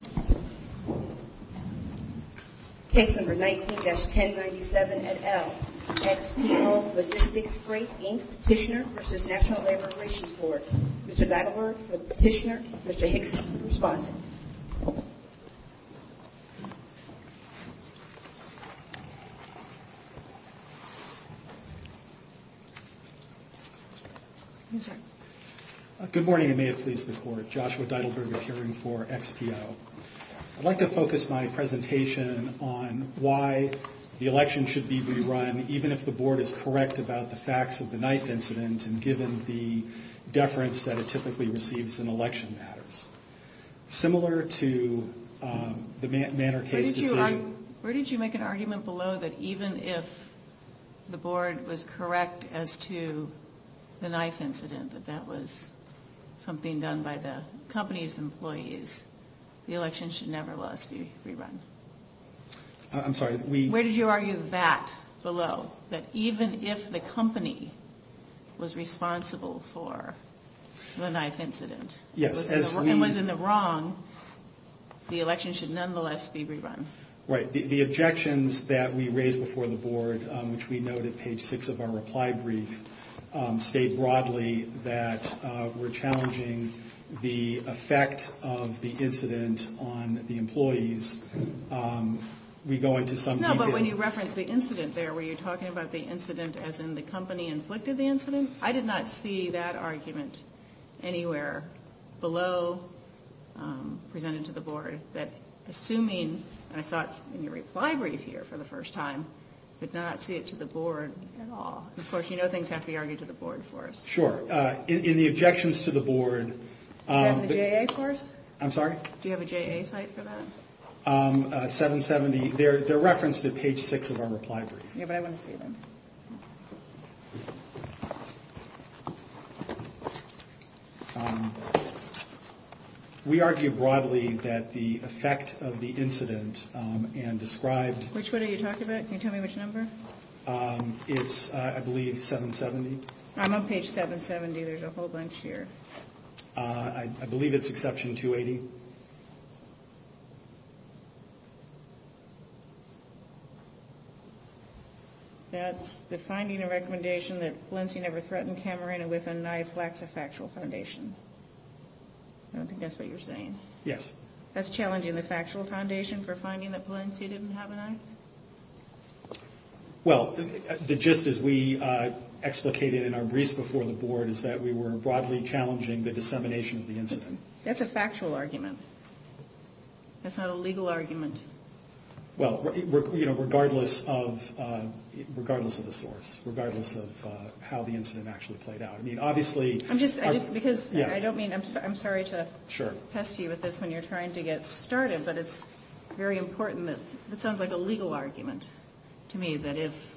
Petitioner v. National Labor Relations Board. Mr. Deidelberg for the Petitioner. Mr. Hickson for the Respondent. Good morning and may it please the Court. Joshua Deidelberg appearing for XPO. I'd like to focus my presentation on why the election should be re-run even if the Board is correct about the facts of the 9th incident and given the deference that it typically receives in election matters. Where did you make an argument below that even if the Board was correct as to the 9th incident that that was something done by the company's employees, the election should nevertheless be re-run? I'm sorry. Where did you argue that below? That even if the company was responsible for the 9th incident and was in the wrong, the election should nonetheless be re-run? Right. The objections that we raised before the Board, which we note at page 6 of our reply brief, state broadly that we're challenging the effect of the incident on the employees. We go into some detail. No, but when you reference the incident there, were you talking about the incident as in the company inflicted the incident? I did not see that argument anywhere below presented to the Board that assuming, and I saw it in your reply brief here for the first time, did not see it to the Board at all. Of course, you know things have to be argued to the Board for us. Sure. In the objections to the Board... Do you have a JA course? I'm sorry? Do you have a JA site for that? 770, they're referenced at page 6 of our reply brief. Yeah, but I wouldn't see them. We argue broadly that the effect of the incident and described... Which one are you talking about? Can you tell me which number? It's, I believe, 770. I'm on page 770. There's a whole bunch here. I believe it's exception 280. That's the finding and recommendation that Polensi never threatened Camerina with a knife lacks a factual foundation. I don't think that's what you're saying. Yes. That's challenging the factual foundation for finding that Polensi didn't have a knife? Well, the gist is we explicated in our briefs before the Board is that we were broadly challenging the dissemination of the incident. That's a factual argument. That's not a legal argument. Well, regardless of the source, regardless of how the incident actually played out. I mean, obviously... I'm sorry to pest you with this when you're trying to get started, but it's very important. It sounds like a legal argument to me that if,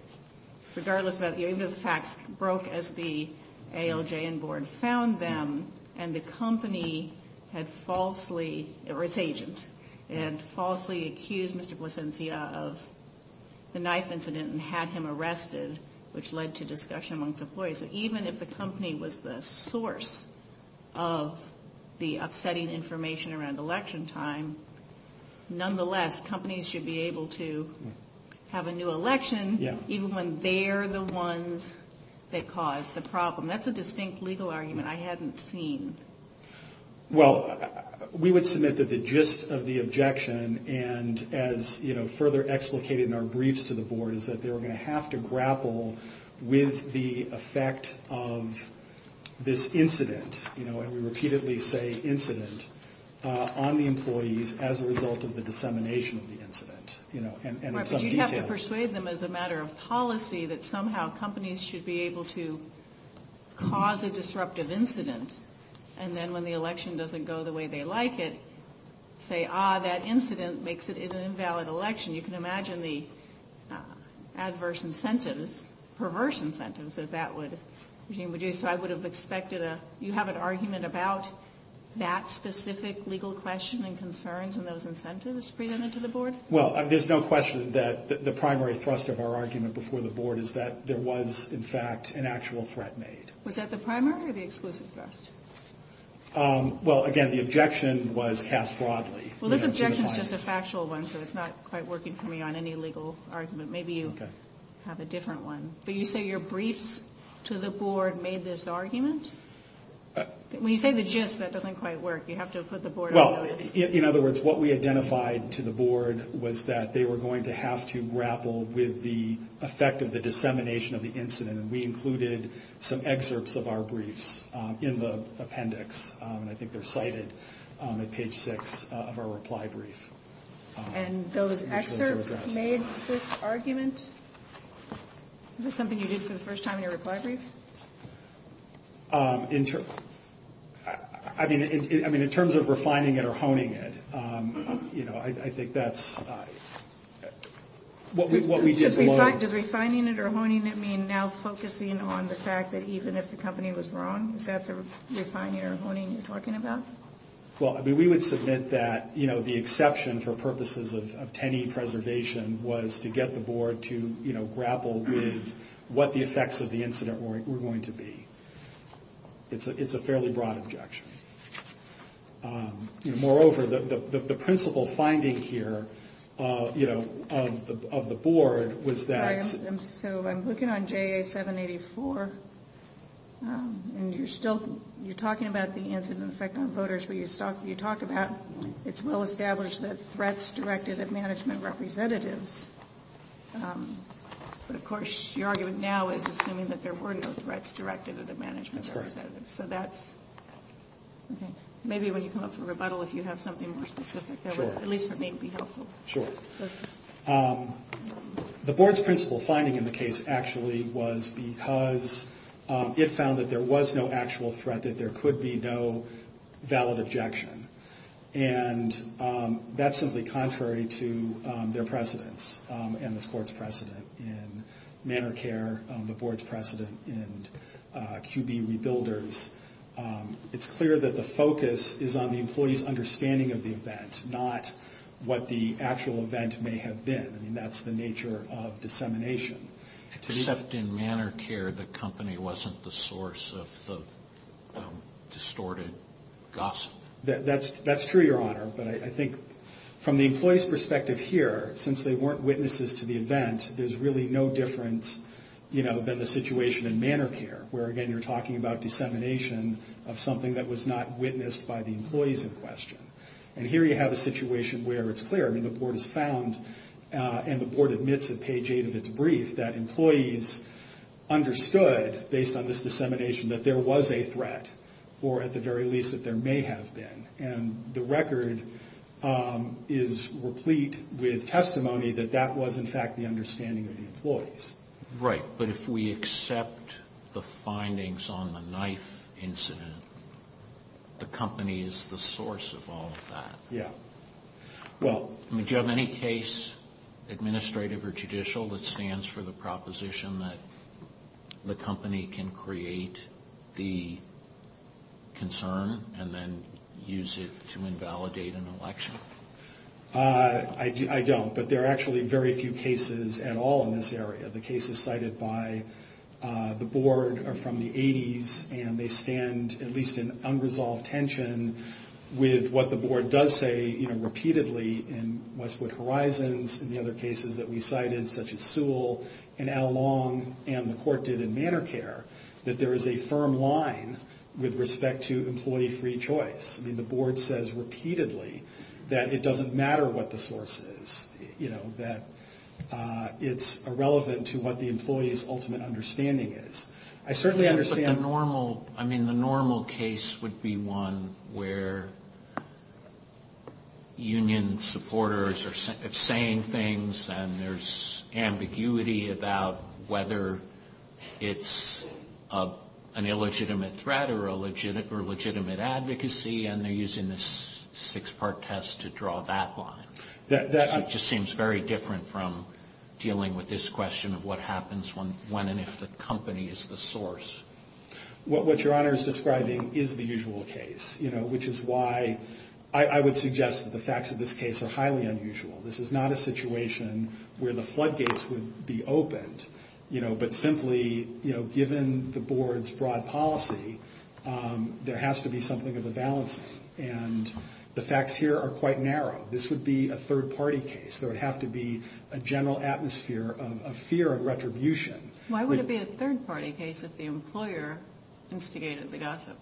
regardless of whether the facts broke as the ALJ and Board found them and the company had falsely, or its agent, had falsely accused Mr. Polensi of the knife incident and had him arrested, which led to discussion amongst employees. Even if the company was the source of the upsetting information around election time, nonetheless, companies should be able to have a new election even when they're the ones that caused the problem. That's a distinct legal argument I hadn't seen. Well, we would submit that the gist of the objection, and as further explicated in our briefs to the Board, is that they were going to have to grapple with the effect of this incident, and we repeatedly say incident, on the employees as a result of the dissemination of the incident. Right, but you'd have to persuade them as a matter of policy that somehow companies should be able to cause a disruptive incident, and then when the election doesn't go the way they like it, say, ah, that incident makes it an invalid election. You can imagine the adverse incentives, perverse incentives that that would... Okay, so I would have expected a... You have an argument about that specific legal question and concerns and those incentives presented to the Board? Well, there's no question that the primary thrust of our argument before the Board is that there was, in fact, an actual threat made. Was that the primary or the exclusive thrust? Well, again, the objection was cast broadly. Well, this objection is just a factual one, so it's not quite working for me on any legal argument. Maybe you have a different one. But you say your briefs to the Board made this argument? When you say the gist, that doesn't quite work. You have to put the Board on notice. And those excerpts made this argument? Is this something you did for the first time in your reply brief? I mean, in terms of refining it or honing it, you know, I think that's... Does refining it or honing it mean now focusing on the fact that even if the company was wrong? Is that the refining or honing you're talking about? Well, I mean, we would submit that, you know, the exception for purposes of 10E preservation was to get the Board to, you know, grapple with what the effects of the incident were going to be. It's a fairly broad objection. Moreover, the principal finding here, you know, of the Board was that... So I'm looking on JA 784, and you're still, you're talking about the incident effect on voters, but you talk about it's well-established that threats directed at management representatives. But of course, your argument now is assuming that there were no threats directed at management representatives. That's correct. So that's, okay. Maybe when you come up for rebuttal, if you have something more specific, that would, at least for me, be helpful. Sure. The Board's principal finding in the case actually was because it found that there was no actual threat, that there could be no valid objection. And that's simply contrary to their precedents and this Court's precedent in Manor Care, the Board's precedent in QB Rebuilders. It's clear that the focus is on the employee's understanding of the event, not what the actual event may have been. I mean, that's the nature of dissemination. Except in Manor Care, the company wasn't the source of the distorted gossip. That's true, Your Honor, but I think from the employee's perspective here, since they weren't witnesses to the event, there's really no difference, you know, than the situation in Manor Care. Where again, you're talking about dissemination of something that was not witnessed by the employees in question. And here you have a situation where it's clear, I mean, the Board has found, and the Board admits at page 8 of its brief, that employees understood, based on this dissemination, that there was a threat, or at the very least, that there may have been. And the record is replete with testimony that that was, in fact, the understanding of the employees. Right, but if we accept the findings on the knife incident, the company is the source of all of that. Yeah. Well, do you have any case, administrative or judicial, that stands for the proposition that the company can create the concern and then use it to invalidate an election? I don't, but there are actually very few cases at all in this area. The cases cited by the Board are from the 80s, and they stand at least in unresolved tension with what the Board does say, you know, repeatedly in Westwood Horizons, and the other cases that we cited, such as Sewell and Al Long, and the Court did in Manor Care, that there is a firm line with respect to employee free choice. I mean, the Board says repeatedly that it doesn't matter what the source is, you know, that it's irrelevant to what the employee's ultimate understanding is. I certainly understand. But the normal, I mean, the normal case would be one where union supporters are saying things, and there's ambiguity about whether it's an illegitimate threat or legitimate advocacy, and they're using this six-part test to draw that line. It just seems very different from dealing with this question of what happens when and if the company is the source. What Your Honor is describing is the usual case, you know, which is why I would suggest that the facts of this case are highly unusual. This is not a situation where the floodgates would be opened, you know, but simply, you know, given the Board's broad policy, there has to be something of a balance. And the facts here are quite narrow. This would be a third-party case. There would have to be a general atmosphere of fear of retribution. Why would it be a third-party case if the employer instigated the gossip?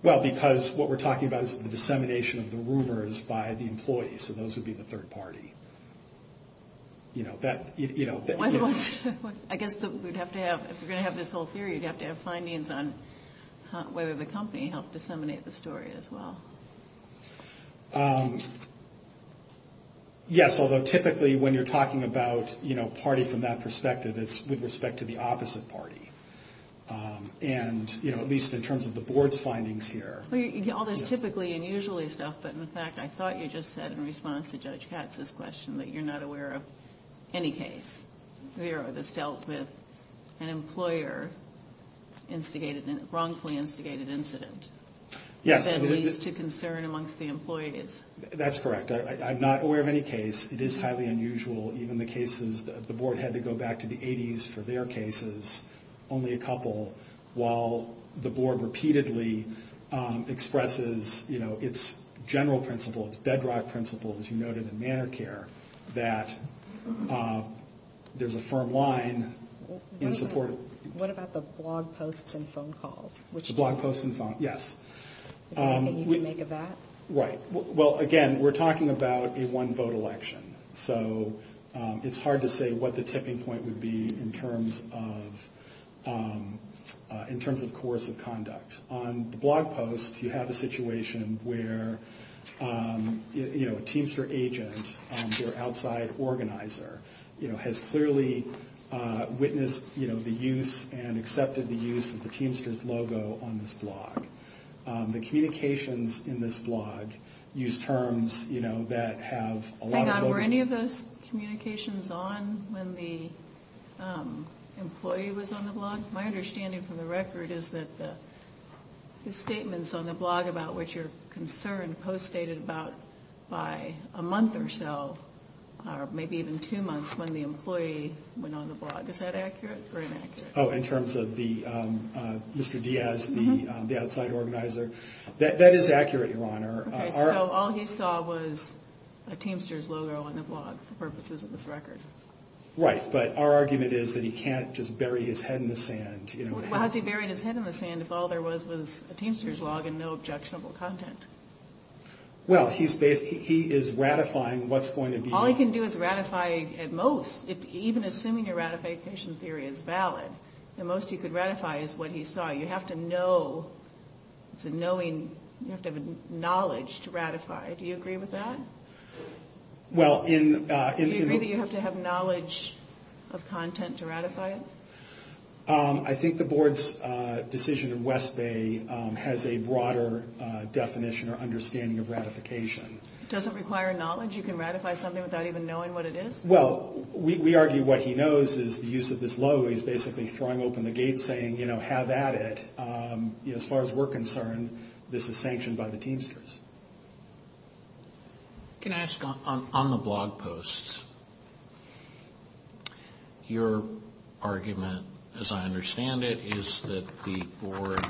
Well, because what we're talking about is the dissemination of the rumors by the employees, so those would be the third party. I guess if you're going to have this whole theory, you'd have to have findings on whether the company helped disseminate the story as well. Yes, although typically when you're talking about party from that perspective, it's with respect to the opposite party. And, you know, at least in terms of the Board's findings here. Well, all this typically unusually stuff, but in fact I thought you just said in response to Judge Katz's question that you're not aware of any case, Vera, that's dealt with an employer wrongfully instigated incident that leads to concern amongst the employees. That's correct. I'm not aware of any case. It is highly unusual. Even the cases that the Board had to go back to the 80s for their cases, only a couple, while the Board repeatedly expresses, you know, its general principle, its bedrock principle, as you noted in Manor Care, that there's a firm line in support. What about the blog posts and phone calls? The blog posts and phone calls, yes. Is there anything you can make of that? Right. Well, again, we're talking about a one-vote election. So it's hard to say what the tipping point would be in terms of coercive conduct. On the blog posts, you have a situation where, you know, a Teamster agent or outside organizer, you know, has clearly witnessed, you know, the use and accepted the use of the Teamster's logo on this blog. The communications in this blog use terms, you know, that have a lot of... Hang on. Were any of those communications on when the employee was on the blog? My understanding from the record is that the statements on the blog about what you're concerned post dated about by a month or so, or maybe even two months, when the employee went on the blog. Is that accurate or inaccurate? Oh, in terms of Mr. Diaz, the outside organizer? That is accurate, Your Honor. Okay. So all he saw was a Teamster's logo on the blog for purposes of this record. Right. But our argument is that he can't just bury his head in the sand. Well, how has he buried his head in the sand if all there was was a Teamster's log and no objectionable content? Well, he is ratifying what's going to be... All he can do is ratify at most. Even assuming your ratification theory is valid, the most he could ratify is what he saw. You have to know. It's a knowing. You have to have knowledge to ratify. Do you agree with that? Well, in... Do you agree that you have to have knowledge of content to ratify it? I think the Board's decision in West Bay has a broader definition or understanding of ratification. Does it require knowledge? You can ratify something without even knowing what it is? Well, we argue what he knows is the use of this logo. He's basically throwing open the gate saying, you know, have at it. As far as we're concerned, this is sanctioned by the Teamsters. Can I ask, on the blog posts, your argument, as I understand it, is that the Board,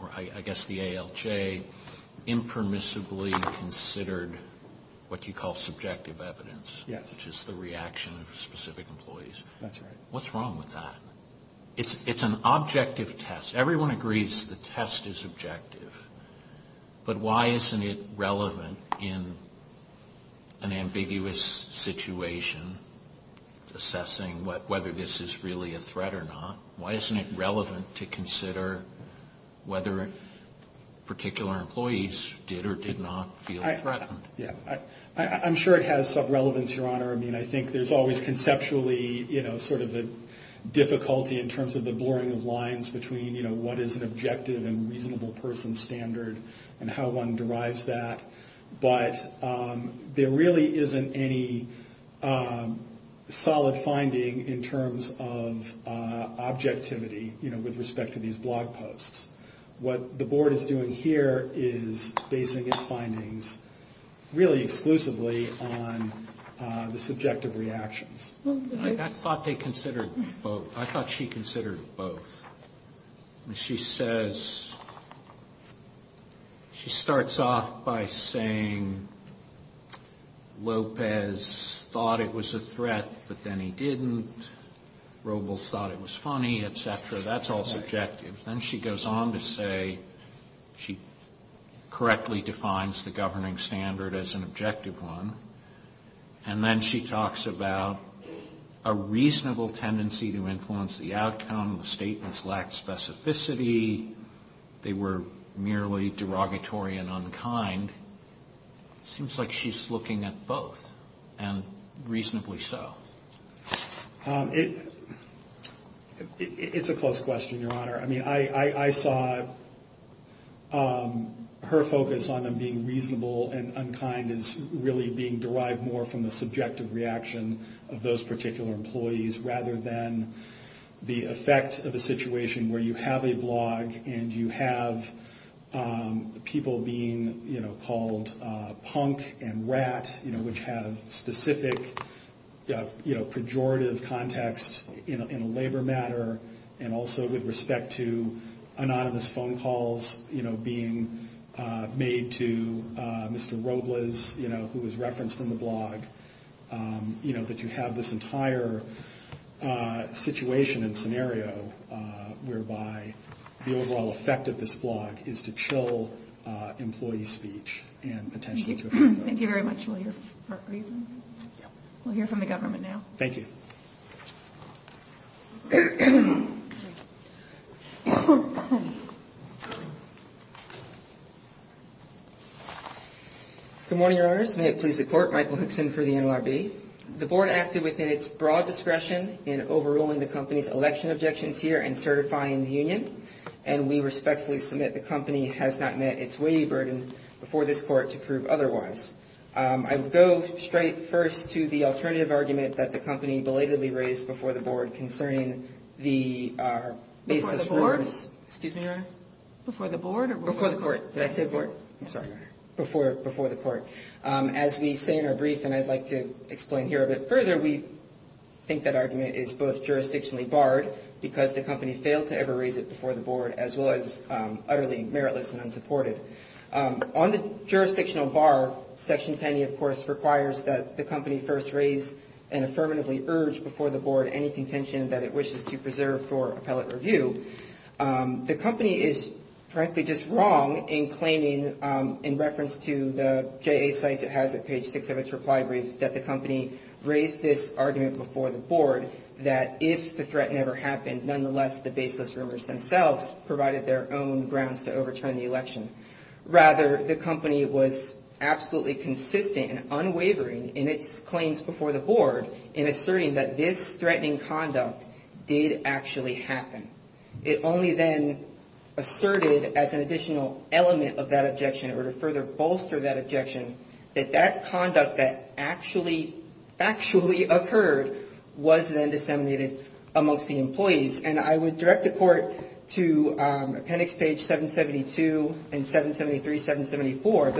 or I guess the ALJ, impermissibly considered what you call subjective evidence. Yes. Which is the reaction of specific employees. That's right. What's wrong with that? It's an objective test. Everyone agrees the test is objective. But why isn't it relevant in an ambiguous situation, assessing whether this is really a threat or not? Why isn't it relevant to consider whether particular employees did or did not feel threatened? Yeah. I'm sure it has some relevance, Your Honor. I mean, I think there's always conceptually, you know, sort of a difficulty in terms of the blurring of lines between, you know, what is an objective and reasonable person standard and how one derives that. But there really isn't any solid finding in terms of objectivity, you know, with respect to these blog posts. What the Board is doing here is basing its findings really exclusively on the subjective reactions. I thought they considered both. I thought she considered both. She says, she starts off by saying, Lopez thought it was a threat, but then he didn't. Robles thought it was funny, et cetera. That's all subjective. Then she goes on to say she correctly defines the governing standard as an objective one. And then she talks about a reasonable tendency to influence the outcome. The statements lacked specificity. They were merely derogatory and unkind. Seems like she's looking at both, and reasonably so. It's a close question, Your Honor. I mean, I saw her focus on them being reasonable and unkind is really being derived more from the subjective reaction of those particular employees rather than the effect of a situation where you have a blog and you have people being, you know, called punk and rat, you know, which have specific, you know, pejorative context in a labor matter, and also with respect to anonymous phone calls, you know, being made to Mr. Robles, you know, who was referenced in the blog, you know, that you have this entire situation and scenario whereby the overall effect of this blog is to chill employee speech. Thank you very much. We'll hear from the government now. Thank you. Good morning, Your Honors. May it please the Court. Michael Hickson for the NLRB. The Board acted within its broad discretion in overruling the company's election objections here and certifying the union, and we respectfully submit the company has not met its weighty burden before this Court to prove otherwise. I would go straight first to the alternative argument that the company belatedly raised before the Board concerning the basis for Excuse me, Your Honor. Before the Board? Before the Court. Did I say Board? I'm sorry. Before the Court. As we say in our brief, and I'd like to explain here a bit further, we think that argument is both jurisdictionally barred because the company failed to ever raise it before the Board, as well as utterly meritless and unsupported. On the jurisdictional bar, Section 10e, of course, requires that the company first raise and affirmatively urge before the Board any contention that it wishes to preserve for appellate review. The company is frankly just wrong in claiming, in reference to the JA sites it has at page 6 of its reply brief, that the company raised this argument before the Board that if the threat never happened, nonetheless the baseless rumors themselves provided their own grounds to overturn the election. Rather, the company was absolutely consistent and unwavering in its claims before the Board in asserting that this threatening conduct did actually happen. It only then asserted as an additional element of that objection, or to further bolster that objection, that that conduct that actually, factually occurred was then disseminated amongst the employees. And I would direct the Court to appendix page 772 and 773, 774.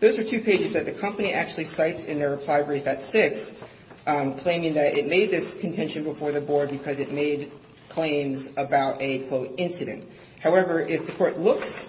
Those are two pages that the company actually cites in their reply brief at 6, claiming that it made this contention before the Board because it made claims about a, quote, incident. However, if the Court looks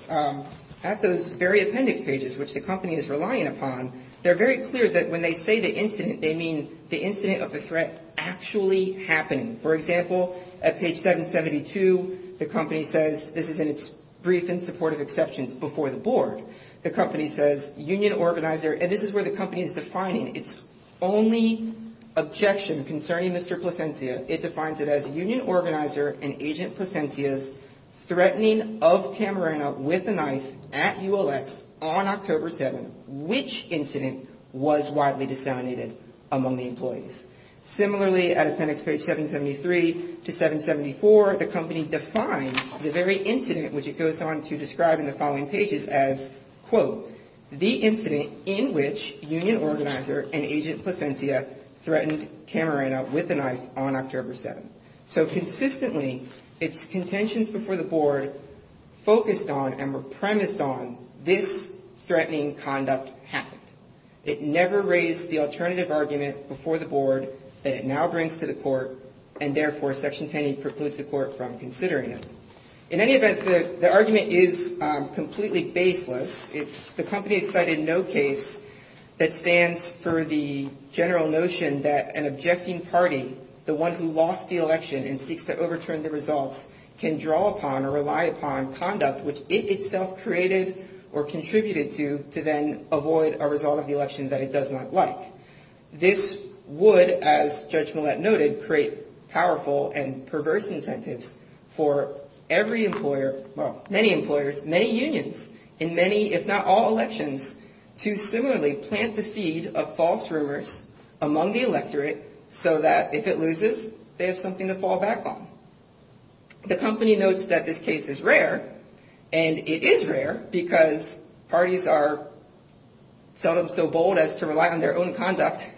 at those very appendix pages, which the company is relying upon, they're very clear that when they say the incident, they mean the incident of the threat actually happening. For example, at page 772, the company says, this is in its brief in support of exceptions before the Board, the company says, union organizer, and this is where the company is defining its only objection concerning Mr. Plasencia. It defines it as union organizer and Agent Plasencia's threatening of Camarena with a knife at ULX on October 7, which incident was widely disseminated among the employees. Similarly, at appendix page 773 to 774, the company defines the very incident, which it goes on to describe in the following pages as, quote, the incident in which union organizer and Agent Plasencia threatened Camarena with a knife on October 7. So consistently, its contentions before the Board focused on and were premised on this threatening conduct happened. It never raised the alternative argument before the Board that it now brings to the Court, and therefore, Section 10E precludes the Court from considering it. In any event, the argument is completely baseless. The company has cited no case that stands for the general notion that an objecting party, the one who lost the election and seeks to overturn the results, can draw upon or rely upon conduct, which it itself created or contributed to, to then avoid a result of the election that it does not like. This would, as Judge Millett noted, create powerful and perverse incentives for every employer, well, many employers, many unions in many, if not all, elections to similarly plant the seed of false rumors among the electorate so that if it loses, they have something to fall back on. The company notes that this case is rare, and it is rare because parties are seldom so bold as to rely on their own conduct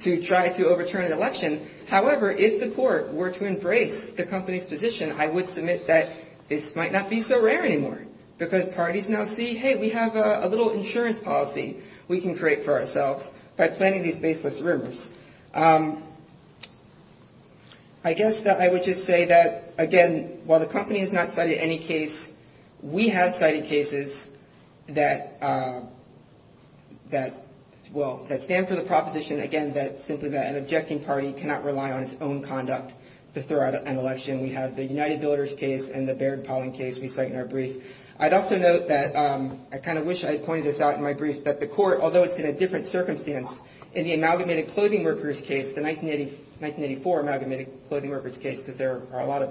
to try to overturn an election. However, if the Court were to embrace the company's position, I would submit that this might not be so rare anymore because parties now see, hey, we have a little insurance policy we can create for ourselves by planting these baseless rumors. I guess that I would just say that, again, while the company has not cited any case, we have cited cases that, well, that stand for the proposition, again, that simply that an objecting party cannot rely on its own conduct to throw out an election. We have the United Builders case and the Baird Polling case we cite in our brief. I'd also note that I kind of wish I had pointed this out in my brief, that the Court, although it's in a different circumstance, in the Amalgamated Clothing Workers case, the 1984 Amalgamated Clothing Workers case, because there are a lot of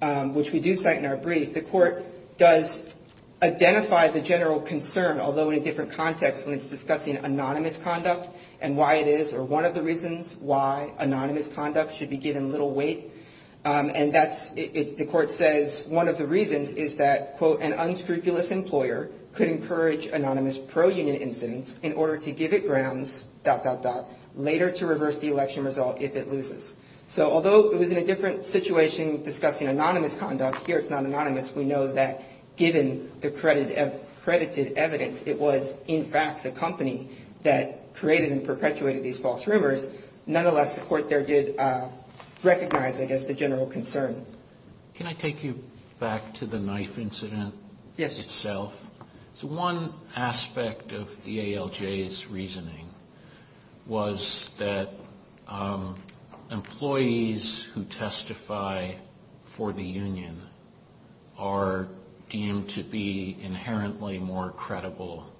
them, which we do cite in our brief, the Court does identify the general concern, although in a different context when it's discussing anonymous conduct and why it is, or one of the reasons why anonymous conduct should be given little weight. And that's, the Court says, one of the reasons is that, quote, an unscrupulous employer could encourage anonymous pro-union incidents in order to give it grounds, dot, dot, dot, later to reverse the election result if it loses. So although it was in a different situation discussing anonymous conduct, here it's not anonymous. We know that given the credited evidence, it was in fact the company that created and perpetuated these false rumors. Nonetheless, the Court there did recognize, I guess, the general concern. Can I take you back to the knife incident itself? Yes. So one aspect of the ALJ's reasoning was that employees who testify for the union are deemed to be inherently more credible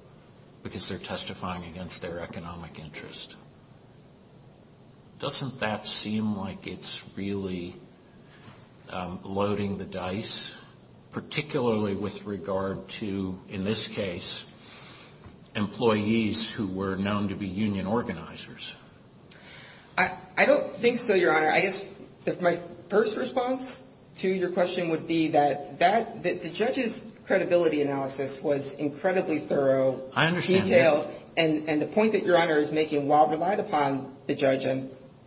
because they're testifying against their economic interest. Doesn't that seem like it's really loading the dice, particularly with regard to, in this case, employees who were known to be union organizers? I don't think so, Your Honor. I guess my first response to your question would be that the judge's credibility analysis was incredibly thorough. I understand that. And the point that Your Honor is making, while relied upon the judge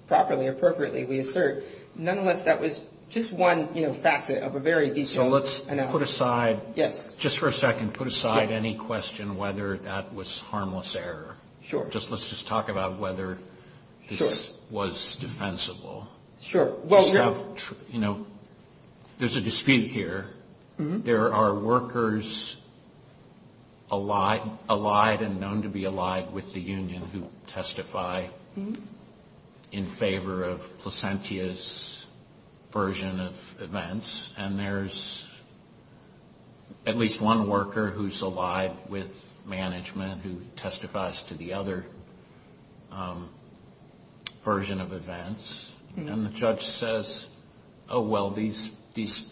properly, appropriately, we assert, nonetheless, that was just one facet of a very detailed analysis. So let's put aside, just for a second, put aside any question whether that was harmless error. Sure. Let's just talk about whether this was defensible. Sure. You know, there's a dispute here. There are workers allied and known to be allied with the union who testify in favor of Placentia's version of events. And there's at least one worker who's allied with management who testifies to the other version of events. And the judge says, oh, well, these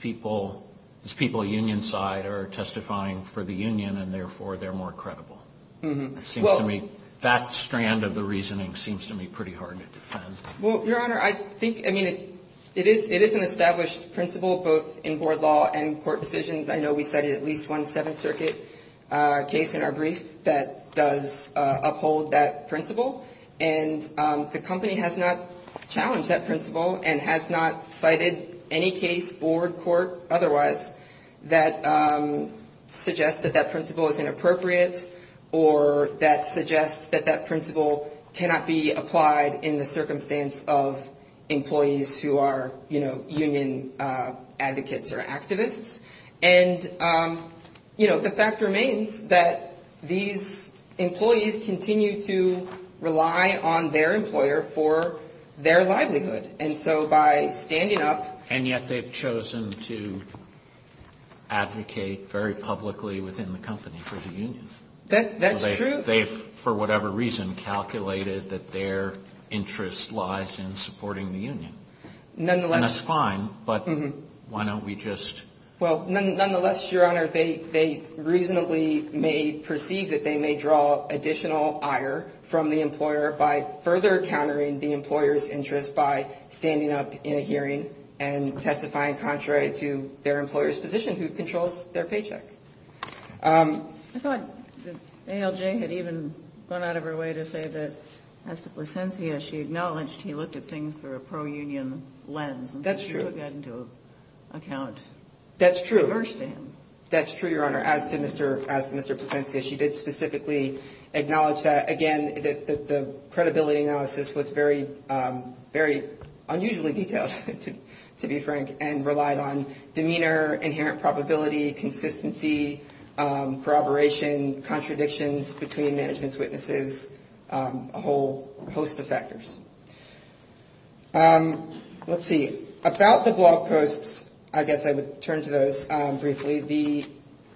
people, this people union side are testifying for the union, and therefore they're more credible. It seems to me that strand of the reasoning seems to me pretty hard to defend. Well, Your Honor, I think, I mean, it is an established principle both in board law and court decisions. I know we cited at least one Seventh Circuit case in our brief that does uphold that principle. And the company has not challenged that principle and has not cited any case for court otherwise that suggests that that principle is inappropriate or that suggests that that principle cannot be applied in the circumstance of employees who are, you know, union advocates or activists. And, you know, the fact remains that these employees continue to rely on their employer for their livelihood. And so by standing up. And yet they've chosen to advocate very publicly within the company for the union. That's true. They've, for whatever reason, calculated that their interest lies in supporting the union. Nonetheless. And that's fine. But why don't we just. Well, nonetheless, Your Honor, they reasonably may perceive that they may draw additional ire from the employer by further countering the employer's interest by standing up in a hearing and testifying contrary to their employer's position who controls their paycheck. I thought ALJ had even gone out of her way to say that as to Placencia, she acknowledged he looked at things through a pro-union lens. That's true. He took that into account. That's true. Reverse to him. That's true, Your Honor, as to Mr. Placencia. She did specifically acknowledge that, again, that the credibility analysis was very, very unusually detailed, to be frank, and relied on demeanor, inherent probability, consistency, corroboration, contradictions between management's witnesses, a whole host of factors. Let's see. About the blog posts, I guess I would turn to those briefly. The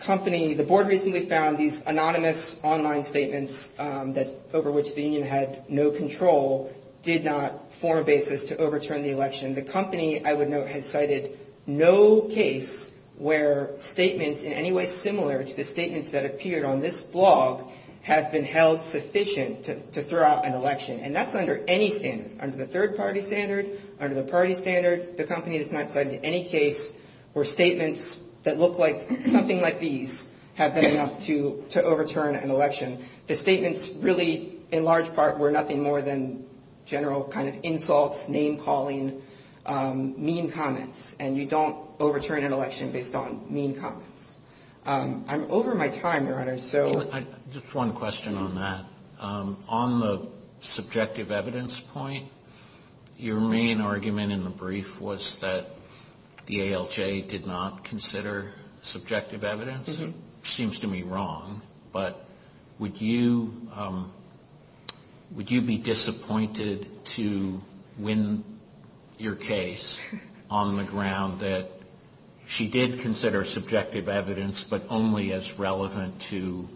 company, the board recently found these anonymous online statements that over which the union had no control did not form a basis to overturn the election. The company, I would note, has cited no case where statements in any way similar to the statements that appeared on this blog have been held sufficient to throw out an election. And that's under any standard, under the third-party standard, under the party standard. The company has not cited any case where statements that look like something like these have been enough to overturn an election. The statements really, in large part, were nothing more than general kind of insults, name-calling, mean comments. And you don't overturn an election based on mean comments. I'm over my time, Your Honor. Just one question on that. On the subjective evidence point, your main argument in the brief was that the ALJ did not consider subjective evidence. Seems to me wrong. But would you be disappointed to win your case on the ground that she did consider subjective evidence but only as relevant to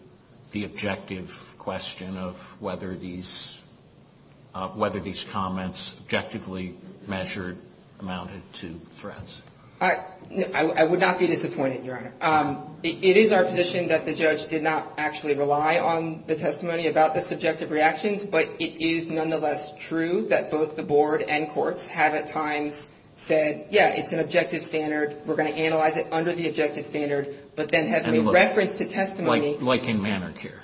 the objective question of whether these comments objectively measured amounted to threats? I would not be disappointed, Your Honor. It is our position that the judge did not actually rely on the testimony about the subjective reactions. But it is nonetheless true that both the board and courts have at times said, yeah, it's an objective standard. We're going to analyze it under the objective standard. But then have made reference to testimony. Like in Mannard here.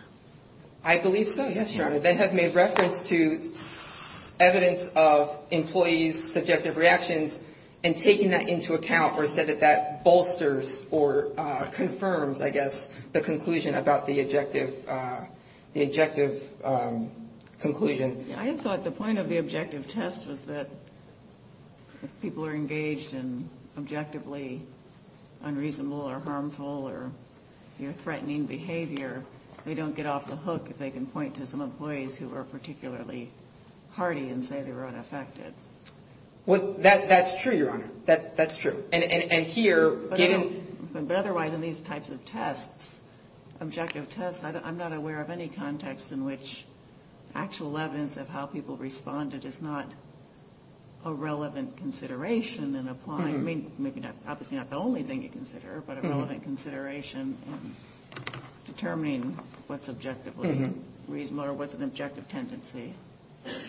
I believe so, yes, Your Honor. Then have made reference to evidence of employees' subjective reactions and taken that into account or said that that bolsters or confirms, I guess, the conclusion about the objective conclusion. I have thought the point of the objective test was that if people are engaged in objectively unreasonable or harmful or threatening behavior, they don't get off the hook if they can point to some employees who are particularly hardy and say they were unaffected. Well, that's true, Your Honor. That's true. But otherwise, in these types of tests, objective tests, I'm not aware of any context in which actual evidence of how people responded is not a relevant consideration in applying. I mean, maybe not the only thing you consider, but a relevant consideration in determining what's objectively reasonable or what's an objective tendency.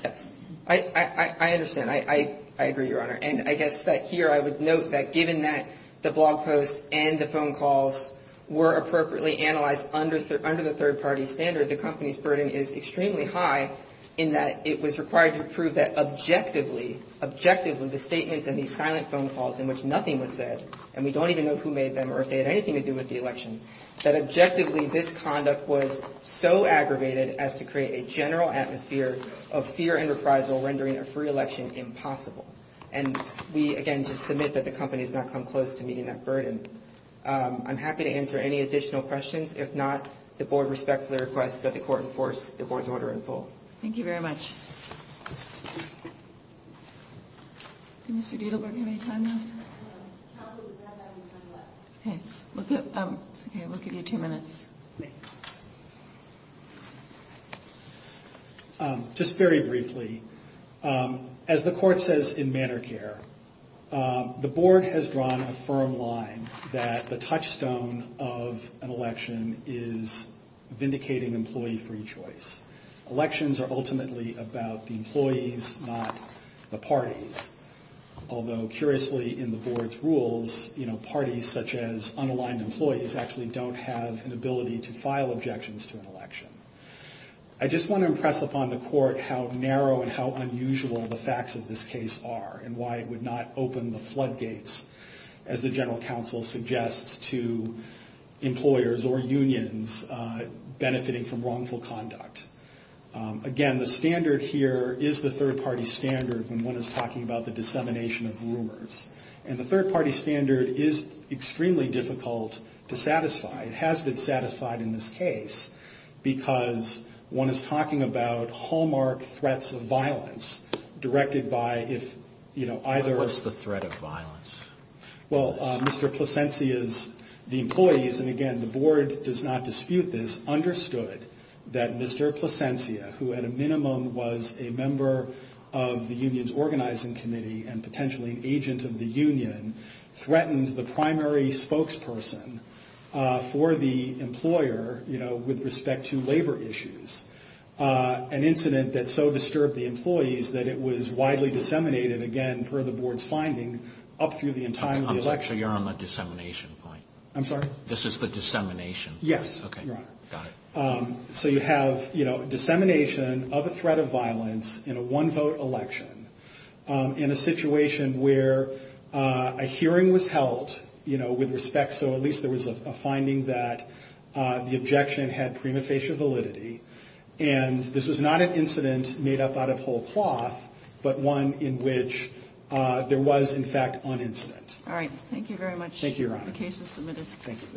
Yes, I understand. I agree, Your Honor. And I guess that here I would note that given that the blog posts and the phone calls were appropriately analyzed under the third party standard. The company's burden is extremely high in that it was required to prove that objectively, objectively, the statements and the silent phone calls in which nothing was said. And we don't even know who made them or if they had anything to do with the election. That objectively, this conduct was so aggravated as to create a general atmosphere of fear and reprisal, rendering a free election impossible. And we, again, just submit that the company has not come close to meeting that burden. I'm happy to answer any additional questions. If not, the board respectfully requests that the court enforce the board's order in full. Thank you very much. Did Mr. Dietlberg have any time left? Counsel, does that have any time left? We'll give you two minutes. Just very briefly. As the court says in Manner Care, the board has drawn a firm line that the touchstone of an election is vindicating employee free choice. Elections are ultimately about the employees, not the parties. Although, curiously, in the board's rules, you know, parties such as unaligned employees actually don't have an ability to file objections to an election. I just want to impress upon the court how narrow and how unusual the facts of this case are and why it would not open the floodgates, as the general counsel suggests, to employers or unions benefiting from wrongful conduct. Again, the standard here is the third party standard when one is talking about the dissemination of rumors. And the third party standard is extremely difficult to satisfy. It has been satisfied in this case because one is talking about hallmark threats of violence directed by if, you know, either. What's the threat of violence? Well, Mr. Placencia's, the employees, and again, the board does not dispute this, understood that Mr. Placencia, who at a minimum was a member of the union's organizing committee and potentially an agent of the union, threatened the primary spokesperson for the employer, you know, with respect to labor issues. An incident that so disturbed the employees that it was widely disseminated, again, per the board's finding, up through the entire election. I'm sorry, so you're on the dissemination point? I'm sorry? This is the dissemination? Yes, Your Honor. Got it. So you have, you know, dissemination of a threat of violence in a one-vote election in a situation where a hearing was held, you know, with respect. So at least there was a finding that the objection had prima facie validity. And this was not an incident made up out of whole cloth, but one in which there was, in fact, an incident. All right. Thank you very much. Thank you, Your Honor. The case is submitted. Thank you.